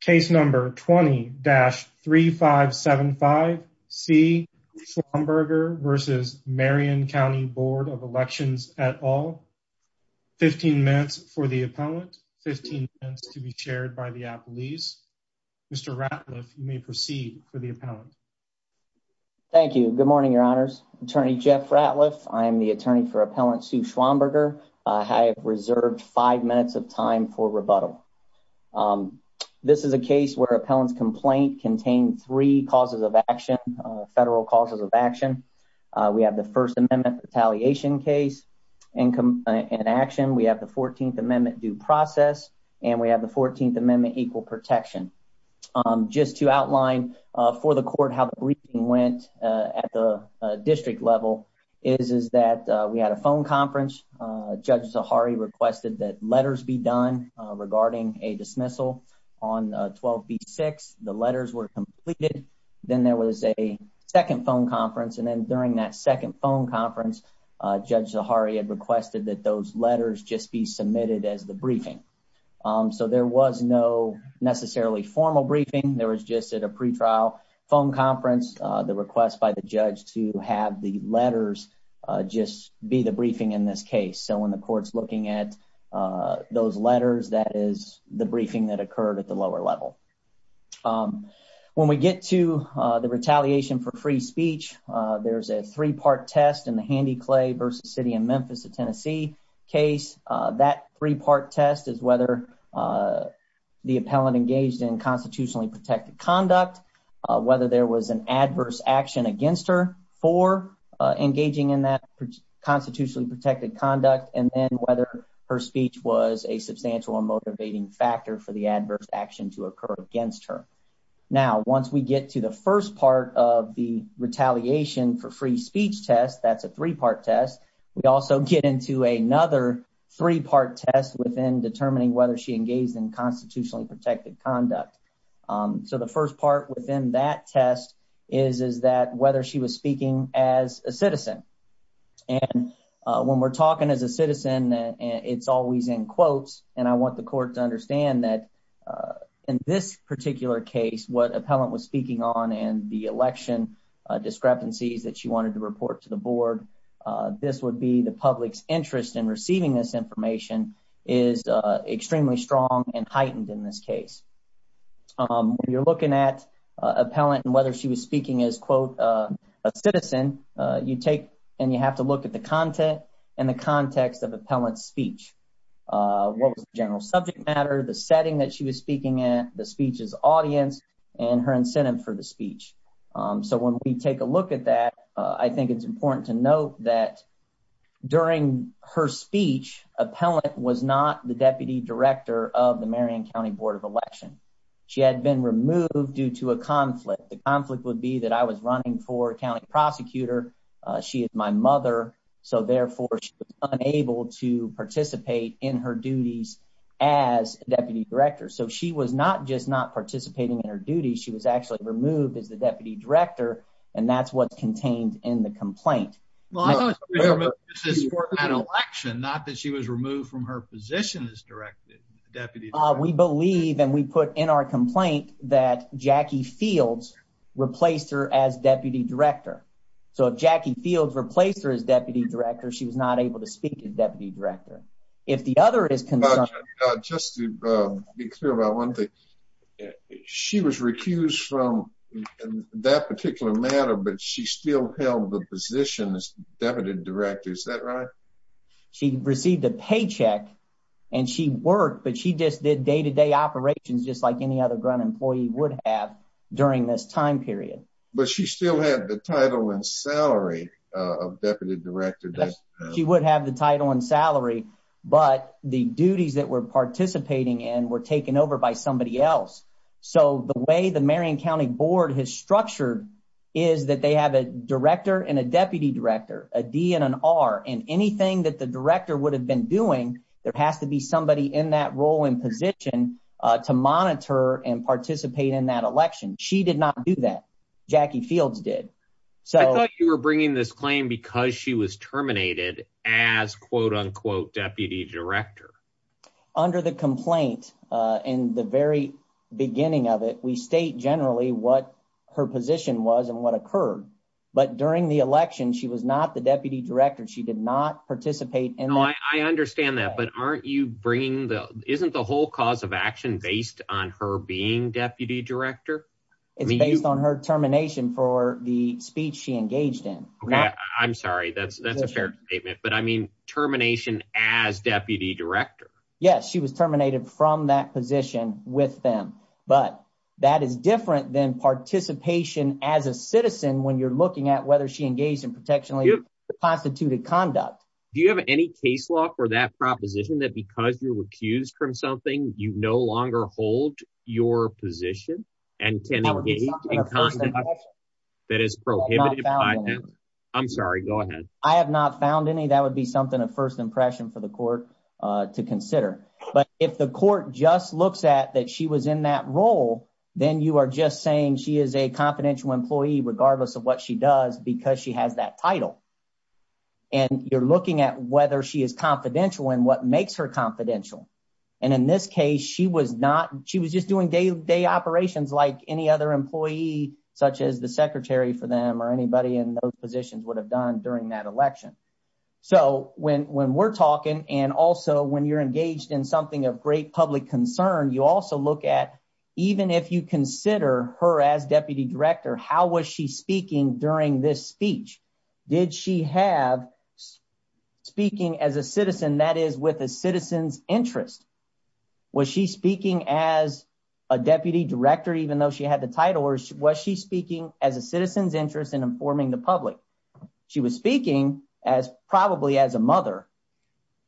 Case number 20-3575 C Schwamberger v. Marion County Bd of Elections et al. 15 minutes for the appellant, 15 minutes to be chaired by the appellees. Mr. Ratliff, you may proceed for the appellant. Thank you. Good morning, your honors. Attorney Jeff Ratliff. I am the attorney for Appellant Sue Schwamberger. I have reserved five minutes of time for rebuttal. Um, this is a case where appellant's complaint contained three causes of action, federal causes of action. We have the First Amendment retaliation case in action. We have the 14th Amendment due process, and we have the 14th Amendment equal protection. Just to outline for the court how the briefing went at the district level is that we had a phone conference. Judge Zahari requested that letters be done regarding a dismissal on 12-B-6. The letters were completed. Then there was a second phone conference. And then during that second phone conference, Judge Zahari had requested that those letters just be submitted as the briefing. So there was no necessarily formal briefing. There was just at a pretrial phone conference, the request by the judge to have the letters just be the briefing in this case. So when the court's looking at those letters, that is the briefing that occurred at the lower level. When we get to the retaliation for free speech, there's a three-part test in the Handy Clay v. City of Memphis v. Tennessee case. That three-part test is whether the appellant engaged in constitutionally protected conduct, whether there was an adverse action against her for engaging in that constitutionally protected conduct, and then whether her speech was a substantial and motivating factor for the adverse action to occur against her. Now, once we get to the first part of the retaliation for free speech test, that's a three-part test. We also get into another three-part test within determining whether she engaged in constitutionally protected conduct. So the first part within that test is that whether she was speaking as a citizen. And when we're talking as a citizen, it's always in quotes, and I want the court to understand that in this particular case, what appellant was speaking on and the election discrepancies that she wanted to report to the board, this would be the public's interest in receiving this information, is extremely strong and heightened in this case. When you're looking at appellant and whether she was speaking as quote, a citizen, you take and you have to look at the content and the context of appellant's speech. What was the general subject matter, the setting that she was speaking at, the speech's audience, and her incentive for the speech. So when we take a look at that, I think it's important to note that during her speech, appellant was not the deputy director of the Marion County Board of Election. She had been removed due to a conflict. The conflict would be that I was running for county prosecutor, she is my mother, so therefore she was unable to participate in her duties as deputy director. So she was not just not participating in her duties, she was actually removed as the deputy director, and that's what's contained in the complaint. Well, I thought she was removed for an election, not that she was removed from her position as deputy director. We believe and we put in our complaint that Jackie Fields replaced her as deputy director. So if Jackie Fields replaced her as deputy director, she was not able to speak as deputy director. If the other is concerned... That particular matter, but she still held the position as deputy director, is that right? She received a paycheck and she worked, but she just did day-to-day operations just like any other Grunt employee would have during this time period. But she still had the title and salary of deputy director. She would have the title and salary, but the duties that were participating in were taken over by somebody else. So the way the Marion County Board has structured is that they have a director and a deputy director, a D and an R, and anything that the director would have been doing, there has to be somebody in that role and position to monitor and participate in that election. She did not do that. Jackie Fields did. I thought you were bringing this claim because she was terminated as quote-unquote deputy director. Under the complaint in the very beginning of it, we state generally what her position was and what occurred, but during the election, she was not the deputy director. She did not participate in that. I understand that, but aren't you bringing the... Isn't the whole cause of action based on her being deputy director? It's based on her termination for the speech she engaged in. I'm sorry, that's a fair statement, but I mean termination as deputy director. Yes, she was terminated from that position with them, but that is different than participation as a citizen when you're looking at whether she engaged in protectionally constituted conduct. Do you have any case law for that proposition that because you're accused from something, you no longer hold your position and can engage in conduct that is prohibited by them? I'm sorry, go ahead. I have not found any. That would be something of first impression for the court to consider, but if the court just looks at that she was in that role, then you are just saying she is a confidential employee regardless of what she does because she has that title, and you're looking at whether she is confidential and what makes her confidential, and in this case, she was not... She was just doing day-to-day operations like any other employee such as the secretary for them or anybody in those positions would have done during that election. So when we're talking and also when you're engaged in something of great public concern, you also look at even if you consider her as deputy director, how was she speaking during this speech? Did she have speaking as a citizen that is with a citizen's interest? Was she speaking as a deputy director even though she had the title, or was she speaking as a citizen's interest in informing the public? She was speaking as probably as a mother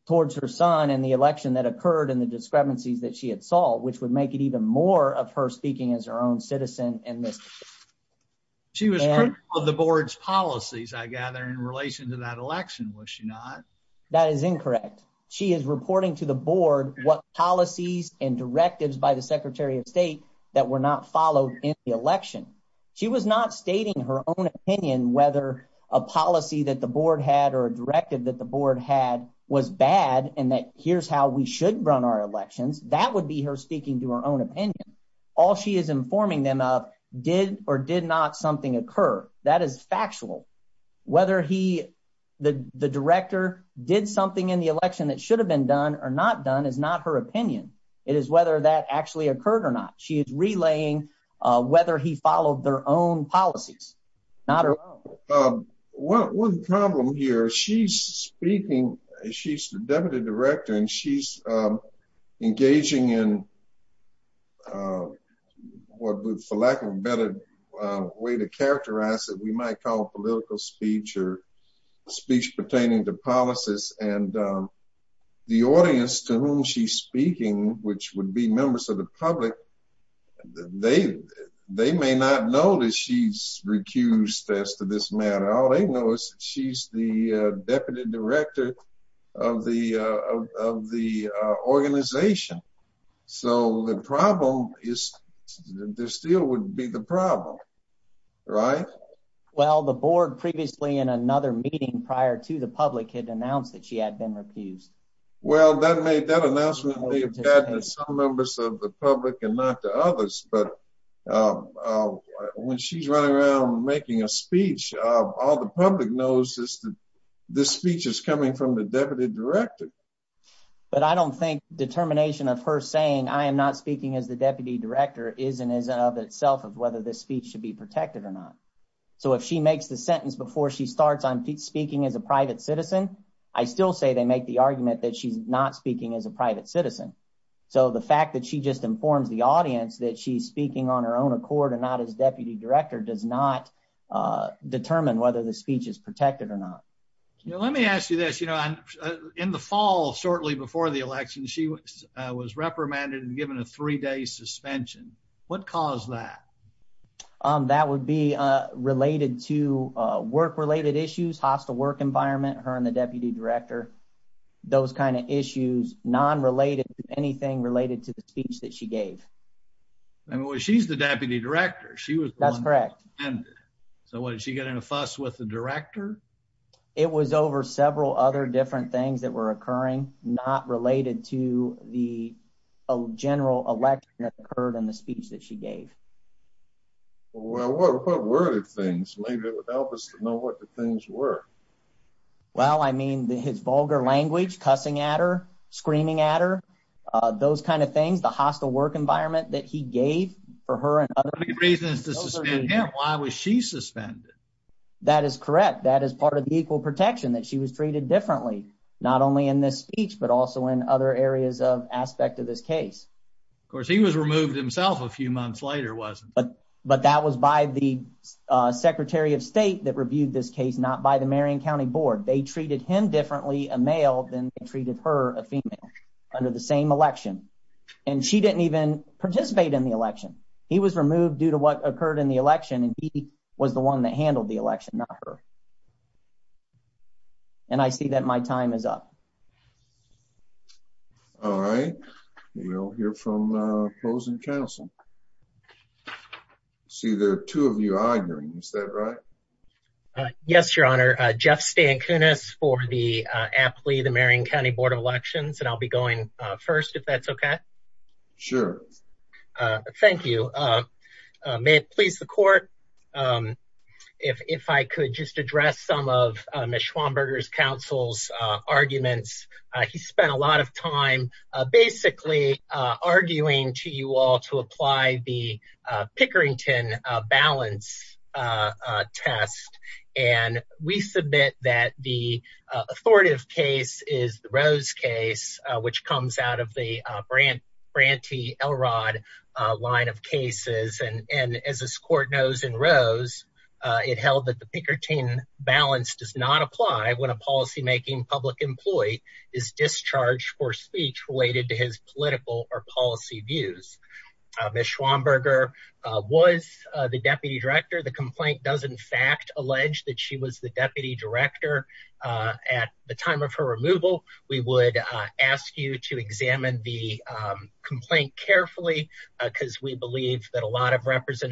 towards her son and the election that occurred and the discrepancies that she had solved, which would make it even more of her speaking as her own citizen in this. She was critical of the board's policies, I gather, in relation to that election, was she not? That is incorrect. She is reporting to the board what policies and directives by the secretary of state that were not followed in the election. She was not stating her own opinion whether a policy that the board had or a directive that the board had was bad and that here's how we should run our elections. That would be her speaking to her own opinion. All she is informing them of did or did not something occur. That is factual. Whether he, the director, did something in the election that should have been done or not done is not her opinion. It is whether that actually occurred or not. She is relaying whether he followed their own policies. Not her own. One problem here, she's speaking, she's the deputy director and she's engaging in what, for lack of a better way to characterize it, we might call political speech or speech pertaining to policies and the audience to whom she's speaking, which would be members of the public, they may not know that she's recused as to this matter. All they know is she's the deputy director of the organization. So, the problem is, there still would be the problem, right? Well, the board previously in another meeting prior to the public had announced that she had been recused. Well, that announcement may have gotten to some members of the public and not to others, but when she's running around making a speech, all the public knows is that this speech is coming from the deputy director. But I don't think determination of her saying I am not speaking as the deputy director is and is of itself of whether this speech should be protected or not. So, if she makes the sentence before she starts on speaking as a private citizen, I still say they make the argument that she's not speaking as a private citizen. So, the fact that she just informs the audience that she's speaking on her own accord and not as deputy director does not determine whether the speech is protected or not. Let me ask you this. In the fall, shortly before the election, she was reprimanded and given a three-day suspension. What caused that? That would be related to work-related issues, hostile work environment, her and the deputy director, those kind of issues non-related to anything related to the speech that she gave. She's the deputy director. That's correct. So, what, did she get in a fuss with the director? It was over several other different things that were occurring not related to the general election that occurred in the speech that she gave. Well, what were the things? Maybe it would help us to know what the things were. Well, I mean, his vulgar language, cussing at her, screaming at her, those kind of things, the hostile work environment that he gave for her and other people. The only reason is to suspend him. Why was she suspended? That is correct. That is part of the equal protection that she was treated differently, not only in this speech, but also in other areas of aspect of this case. Of course, he was removed himself a few months later, wasn't he? But that was by the Secretary of State that reviewed this case, not by the Marion County Board. They treated him differently, a male, than they treated her, a female, under the same election. And she didn't even participate in the election. He was removed due to what occurred in the election, and he was the one that handled the election, not her. And I see that my time is up. All right, we'll hear from opposing counsel. See, there are two of you arguing. Is that right? Yes, Your Honor. Jeff Stankunas for the Apley, the Marion County Board of Elections, and I'll be going first, if that's okay. Sure. Thank you. May it please the court, if I could just address some of Ms. Schwamberger's counsel's arguments. He spent a lot of time basically arguing to you all to apply the Pickerington balance test. And we submit that the authoritative case is the Rose case, which comes out of the Branty Elrod line of cases. And as this court knows in Rose, it held that the Pickerington balance does not apply when a policymaking public employee is discharged for speech related to his political or policy views. Ms. Schwamberger was the deputy director. The complaint does in fact allege that she was the deputy director at the time of her removal. We would ask you to examine the complaint carefully because we believe that a lot of this,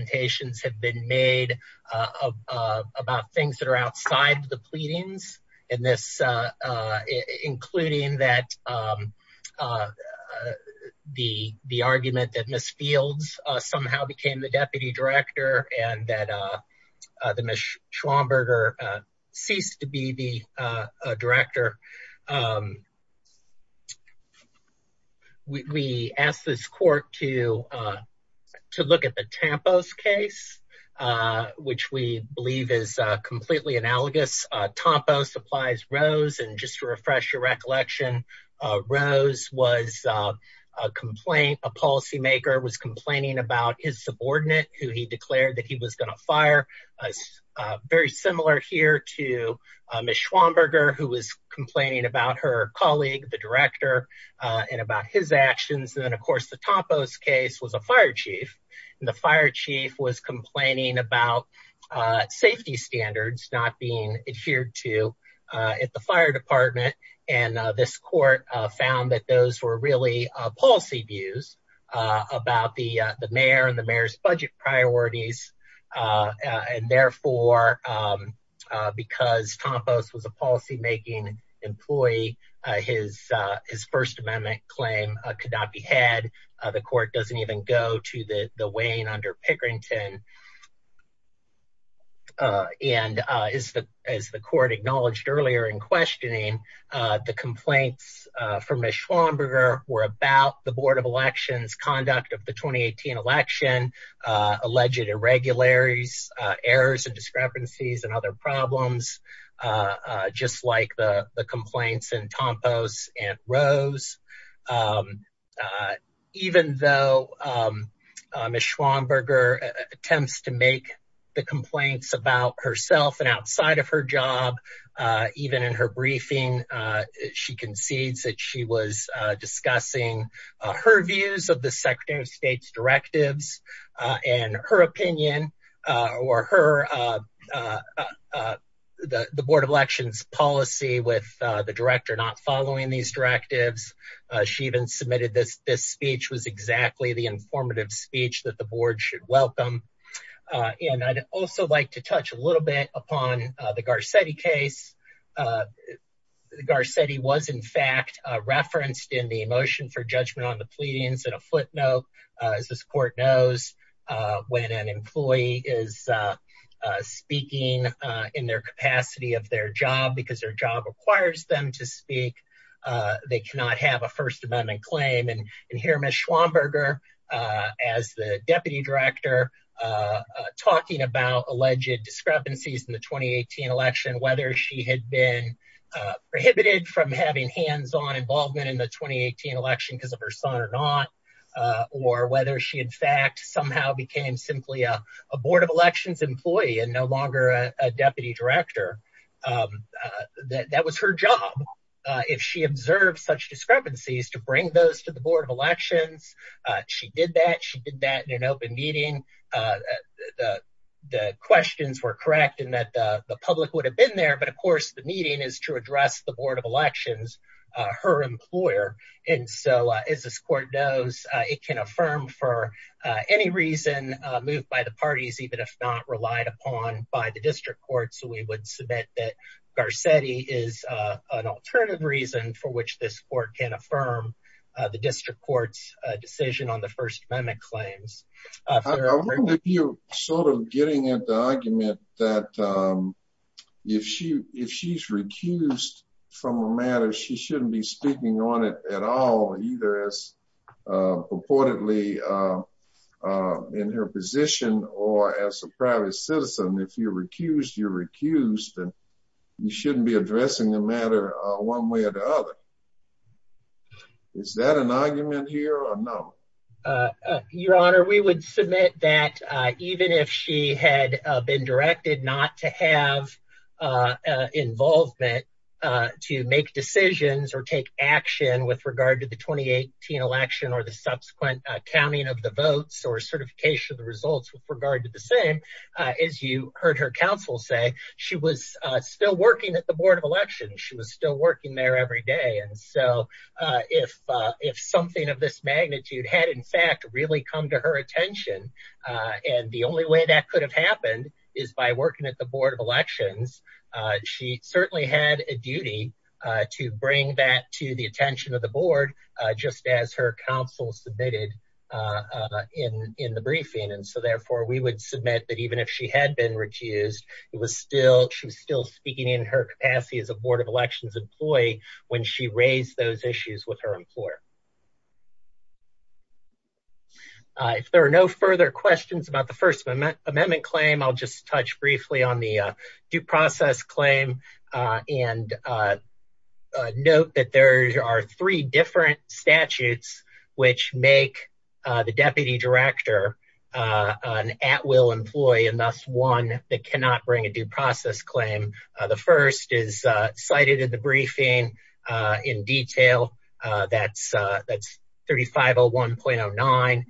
including that the argument that Ms. Fields somehow became the deputy director and that Ms. Schwamberger ceased to be the director. We asked this court to look at the Tampos case, which we believe is completely analogous. Tampos applies Rose. And just to refresh your recollection, Rose was a complaint. A policymaker was complaining about his subordinate who he declared that he was going to fire. Very similar here to Ms. Schwamberger, who was complaining about her colleague, the director, and about his actions. And then of course, the Tampos case was a fire chief and the fire chief was complaining about safety standards not being adhered to at the fire department. And this court found that those were really policy views about the mayor and the mayor's budget priorities. And therefore, because Tampos was a policymaking employee, his First Amendment claim could not be had. The court doesn't even go to the Wayne under Pickerington. And as the court acknowledged earlier in questioning, the complaints from Ms. Schwamberger were about the board of elections conduct of the 2018 election, alleged irregularities, errors and discrepancies and other problems, just like the complaints in Tampos and Rose. Even though Ms. Schwamberger attempts to make the complaints about herself and outside of her job, even in her briefing, she concedes that she was discussing her views of the Secretary of State's directives and her opinion or the board of elections policy with the director not following these directives. She even submitted this. This speech was exactly the informative speech that the board should welcome. And I'd also like to touch a little bit upon the Garcetti case. Garcetti was in fact referenced in the motion for judgment on the pleadings and a footnote as this court knows, when an employee is speaking in their capacity of their job because their job requires them to speak, they cannot have a first amendment claim. And here Ms. Schwamberger as the deputy director talking about alleged discrepancies in the 2018 election, whether she had been prohibited from having hands on involvement in the 2018 election because of her son or not, or whether she in fact somehow became simply a board of elections employee and no longer a deputy director. That was her job. If she observed such discrepancies to bring those to the board of elections, she did that. She did that in an open meeting. The questions were correct in that the public would have been there. But of course, the meeting is to address the board of elections, her employer. And so as this court knows, it can affirm for any reason moved by the parties, even if not relied upon by the district court. So we would submit that Garcetti is an alternative reason for which this court can affirm the district court's decision on the first amendment claims. I wonder if you're sort of getting at the argument that if she's recused from a matter, she shouldn't be speaking on it at all, either as purportedly in her position or as a private citizen. If you're recused, you're recused and you shouldn't be addressing the matter one way or the other. Is that an argument here or not? Your Honor, we would submit that even if she had been directed not to have involvement to make decisions or take action with regard to the 2018 election or the subsequent counting of the votes or certification of the results with regard to the same, as you heard her counsel say, she was still working at the board of elections. She was still working there every day. And so if something of this magnitude had, in fact, really come to her attention, and the only way that could have happened is by working at the board of elections, she certainly had a duty to bring that to the attention of the board, just as her counsel submitted in the briefing. And so, therefore, we would submit that even if she had been recused, it was still she was still speaking in her capacity as a board of elections employee when she raised those issues with her employer. If there are no further questions about the first amendment claim, I'll just touch briefly on the due process claim and note that there are three different statutes which make the deputy director an at-will employee and thus one that cannot bring a due process claim. The first is cited in the briefing in detail. That's 3501.09.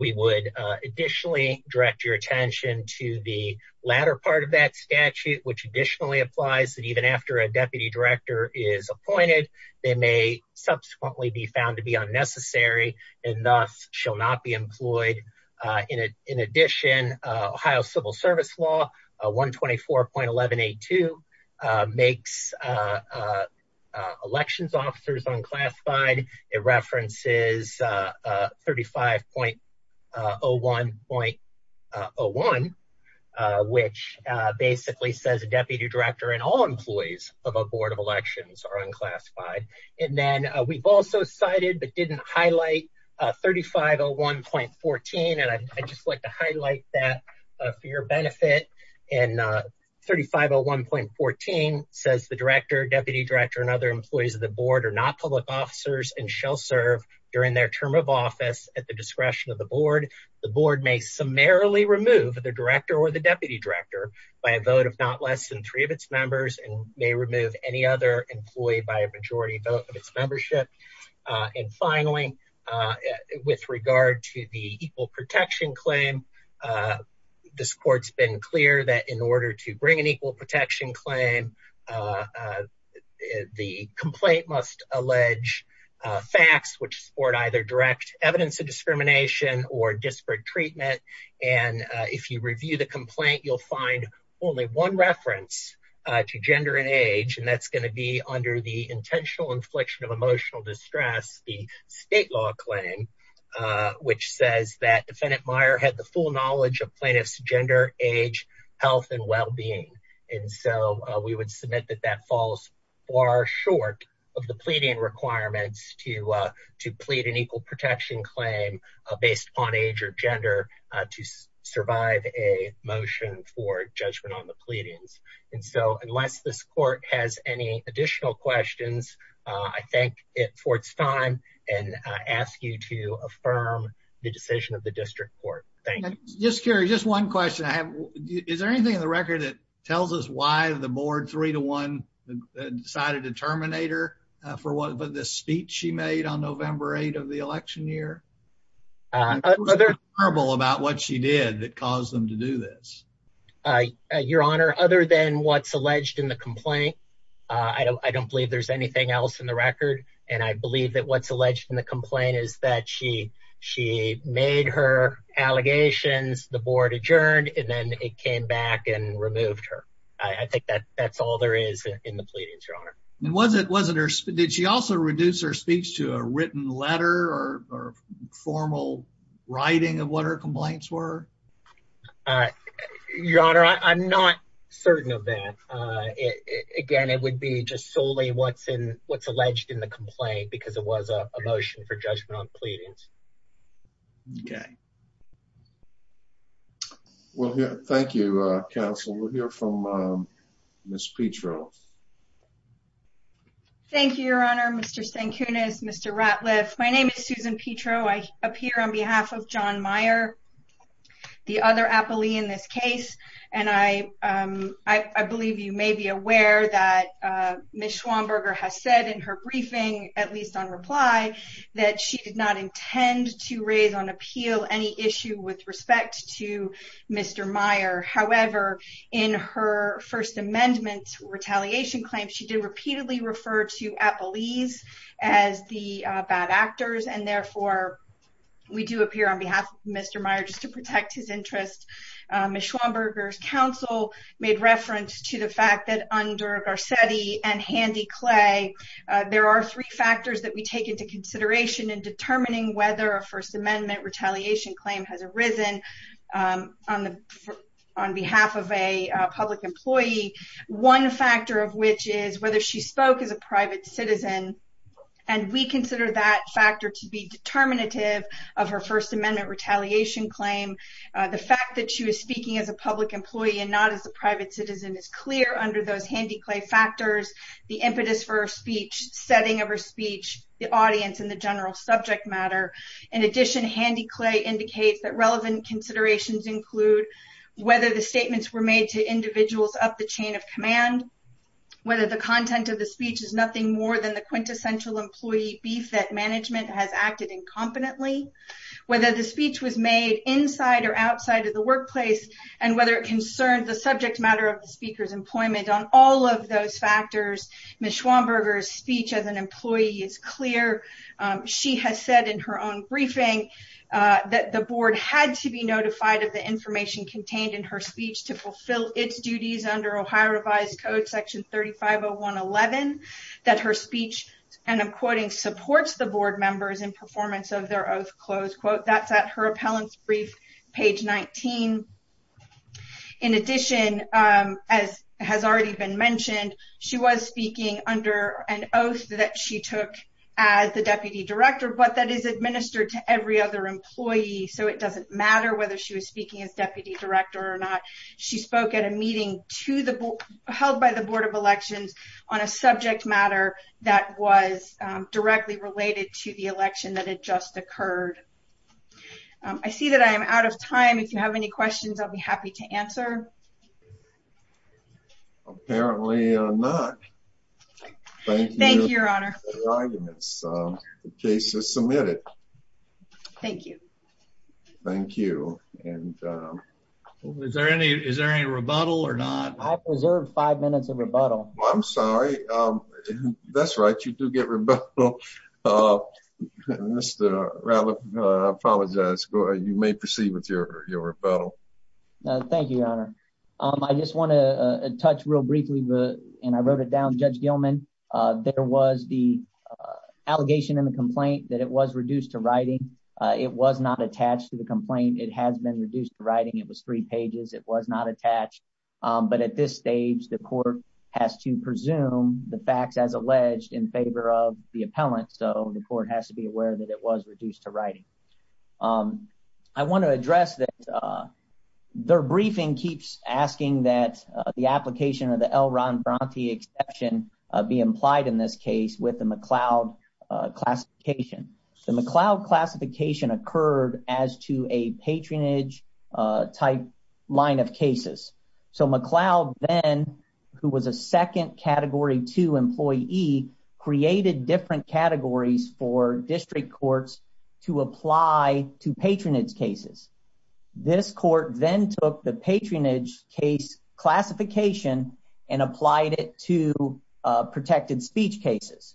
We would additionally direct your attention to the latter part of that statute, which additionally applies that even after a deputy director is appointed, they may subsequently be found to be unnecessary and thus shall not be employed. In addition, Ohio civil service law 124.1182 makes elections officers unclassified. It references 35.01.01, which basically says a deputy director and all employees of a board of elections are unclassified. And then we've also cited but didn't highlight 3501.14. And I'd just like to highlight that for your benefit. And 3501.14 says the director, deputy director, and other employees of the board are not public officers and shall serve during their term of office at the discretion of the board. The board may summarily remove the director or the deputy director by a vote of not less than three of its members and may remove any other employee by a majority vote of its membership. And finally, with regard to the equal protection claim, this court's been clear that in order to bring an equal protection claim, the complaint must allege facts which support either direct evidence of discrimination or disparate treatment. And if you review the complaint, you'll find only one reference to gender and age. And that's going to be under the intentional infliction of emotional distress, the state law claim, which says that defendant Meyer had the full knowledge of plaintiff's gender, age, health, and well-being. And so we would submit that that falls far short of the pleading requirements to plead an equal protection claim based on age or gender to survive a motion for judgment on the pleadings. And so unless this court has any additional questions, I thank it for its time and ask you to affirm the decision of the district court. Thank you. Just curious, just one question I have. Is there anything in the record that tells us why the board three to one decided to terminate her for what the speech she made on November 8th of the election year? Uh, they're horrible about what she did that caused them to do this. Uh, your honor, other than what's alleged in the complaint, I don't believe there's anything else in the record. And I believe that what's alleged in the complaint is that she, she made her allegations, the board adjourned, and then it came back and removed her. I think that that's all there is in the pleadings, your honor. And was it, wasn't her, did she also reduce her speech to a written letter or formal writing of what her complaints were? Uh, your honor, I'm not certain of that. Uh, it, again, it would be just solely what's in what's alleged in the complaint because it was a motion for judgment on pleadings. Okay. Well, thank you. Uh, counsel, we'll hear from, um, Ms. Petro. Thank you, your honor, Mr. Stankunas, Mr. Ratliff. My name is Susan Petro. I appear on behalf of John Meyer, the other appellee in this case. And I, um, I, I believe you may be aware that, uh, Ms. Schwamberger has said in her briefing, at least on reply, that she did not intend to raise on appeal any issue with respect to Mr. Meyer. However, in her first amendment retaliation claim, she did repeatedly refer to appellees as the bad actors. And therefore, we do appear on behalf of Mr. Meyer just to protect his interest. Ms. Schwamberger's counsel made reference to the fact that under Garcetti and Handy Clay, uh, there are three factors that we take into consideration in determining whether a first amendment retaliation claim has arisen, um, on the, on behalf of a public employee. One factor of which is whether she spoke as a private citizen. And we consider that factor to be determinative of her first amendment retaliation claim. The fact that she was speaking as a public employee and not as a private citizen is clear under those Handy Clay factors, the impetus for her speech, setting of her speech, the audience, and the general subject matter. In addition, Handy Clay indicates that relevant considerations include whether the statements were made to individuals up the chain of command, whether the content of the speech is nothing more than the quintessential employee beef that management has acted incompetently, whether the speech was made inside or outside of the workplace, and whether it concerned the subject matter of the speaker's employment. On all of those factors, Ms. Schwamberger's speech as an employee is clear. She has said in her own briefing, uh, that the board had to be notified of the information contained in her speech to fulfill its duties under Ohio revised code section 350111, that her speech, and I'm quoting, supports the board members in performance of their oath close quote. That's at her appellant's brief, page 19. In addition, um, as has already been mentioned, she was speaking under an oath that she took as the deputy director, but that is administered to every other employee. So it doesn't matter whether she was speaking as deputy director or not. She spoke at a meeting to the, held by the board of elections on a subject matter that was directly related to the election that had just occurred. I see that I am out of time. If you have any questions, I'll be happy to answer. Apparently not. Thank you, your honor. The case is submitted. Thank you. Thank you. And, um, is there any, is there any rebuttal or not? I preserved five minutes of rebuttal. I'm sorry. That's right. You do get rebuttal, uh, Mr. I apologize. You may proceed with your, your rebuttal. Thank you, your honor. Um, I just want to touch real briefly, but, and I wrote it down. Judge Gilman, uh, there was the, uh, allegation in the complaint that it was reduced to writing. Uh, it was not attached to the complaint. It has been reduced to writing. It was three pages. It was not attached. But at this stage, the court has to presume the facts as alleged in favor of the appellant. So the court has to be aware that it was reduced to writing. Um, I want to address that, uh, their briefing keeps asking that the application of the L Ron Bronte exception, uh, be implied in this case with the McLeod, uh, classification. The McLeod classification occurred as to a patronage, uh, type line of cases. So McLeod then, who was a second category two employee, created different categories for district courts to apply to patronage cases. This court then took the patronage case classification and applied it to, uh, protected speech cases.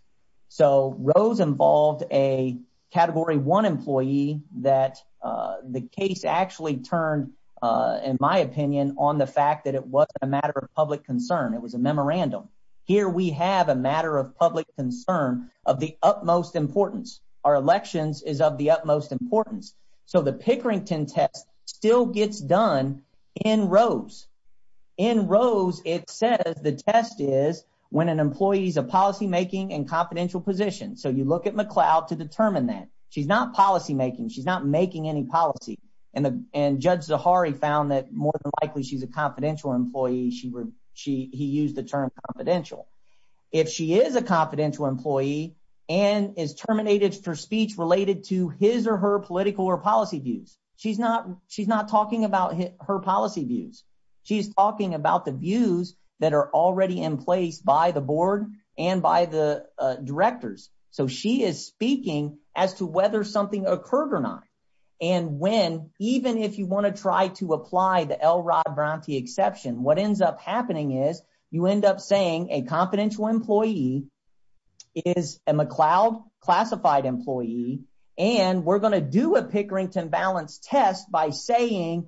So Rose involved a category one employee that, uh, the case actually turned, uh, in my opinion on the fact that it wasn't a matter of public concern. It was a memorandum. Here we have a matter of public concern of the utmost importance. Our elections is of the utmost importance. So the Pickerington test still gets done in Rose. In Rose, it says the test is when an employee is a policymaking and confidential position. So you look at McLeod to determine that she's not policymaking. She's not making any policy. And Judge Zahari found that more than likely she's a confidential employee. She would, she, he used the term confidential. If she is a confidential employee and is terminated for speech related to his or her political or policy views, she's not, she's not talking about her policy views. She's talking about the views that are already in place by the board and by the directors. So she is speaking as to whether something occurred or not. And when, even if you want to try to apply the Elrod Bronte exception, what ends up happening is you end up saying a confidential employee is a McLeod classified employee, and we're going to do a Pickerington balance test by saying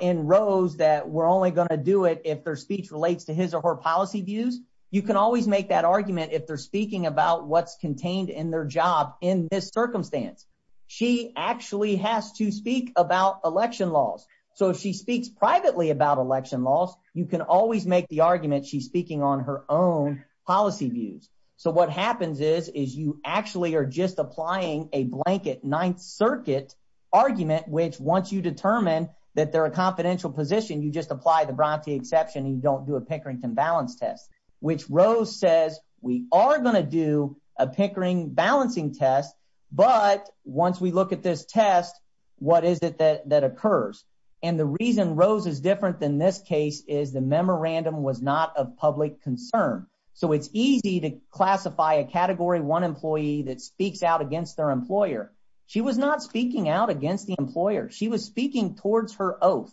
in Rose that we're only going to do it if their speech relates to his or her policy views. You can always make that argument if they're speaking about what's contained in their job in this circumstance. She actually has to speak about election laws. So if she speaks privately about election laws, you can always make the argument she's speaking on her own policy views. So what happens is, is you actually are just applying a blanket Ninth Circuit argument, which once you determine that they're a confidential position, you just apply the Bronte exception and you don't do a Pickerington balance test, which Rose says we are going to do a Pickering balancing test, but once we look at this test, what is it that occurs? And the reason Rose is different than this case is the memorandum was not a public concern. So it's easy to classify a category one employee that speaks out against their employer. She was not speaking out against the employer. She was speaking towards her oath,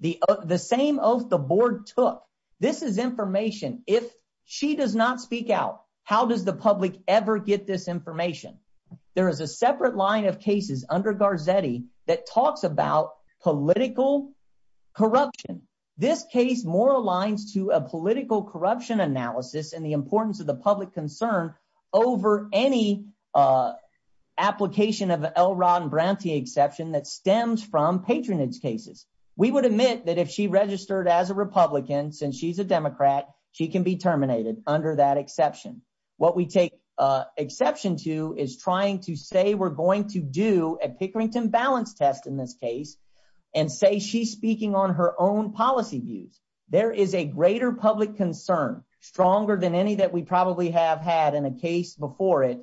the same oath the board took. This is information. If she does not speak out, how does the public ever get this information? There is a separate line of cases under Garzetti that talks about political corruption. This case more aligns to a political corruption analysis and the importance of the public concern over any application of L. Ron Bronte exception that stems from patronage cases. We would admit that if she registered as a Republican, since she's a Democrat, she can be terminated under that exception. What we take exception to is trying to say we're going to do a Pickerington balance test in this case and say she's speaking on her own policy views. There is a greater public concern, stronger than any that we probably have had in a case before it,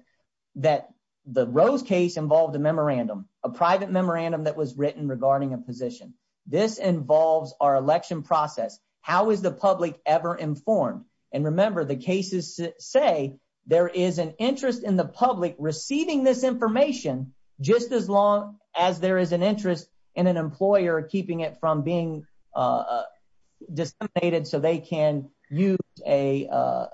that the Rose case involved a memorandum, a private memorandum that was written regarding a position. This involves our election process. How is the public ever informed? And remember, the cases say there is an interest in the public receiving this information just as long as there is an interest in an employer keeping it from being disseminated so they can use an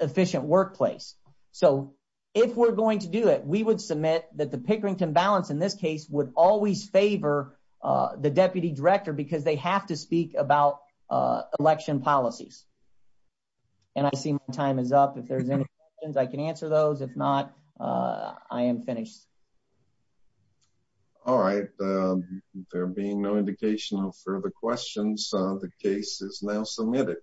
efficient workplace. So if we're going to do it, we would submit that the Pickerington balance in this case would always favor the deputy director because they have to speak about election policies. And I see my time is up. If there's any questions, I can answer those. If not, I am finished. All right. There being no indication of further questions, the case is now submitted.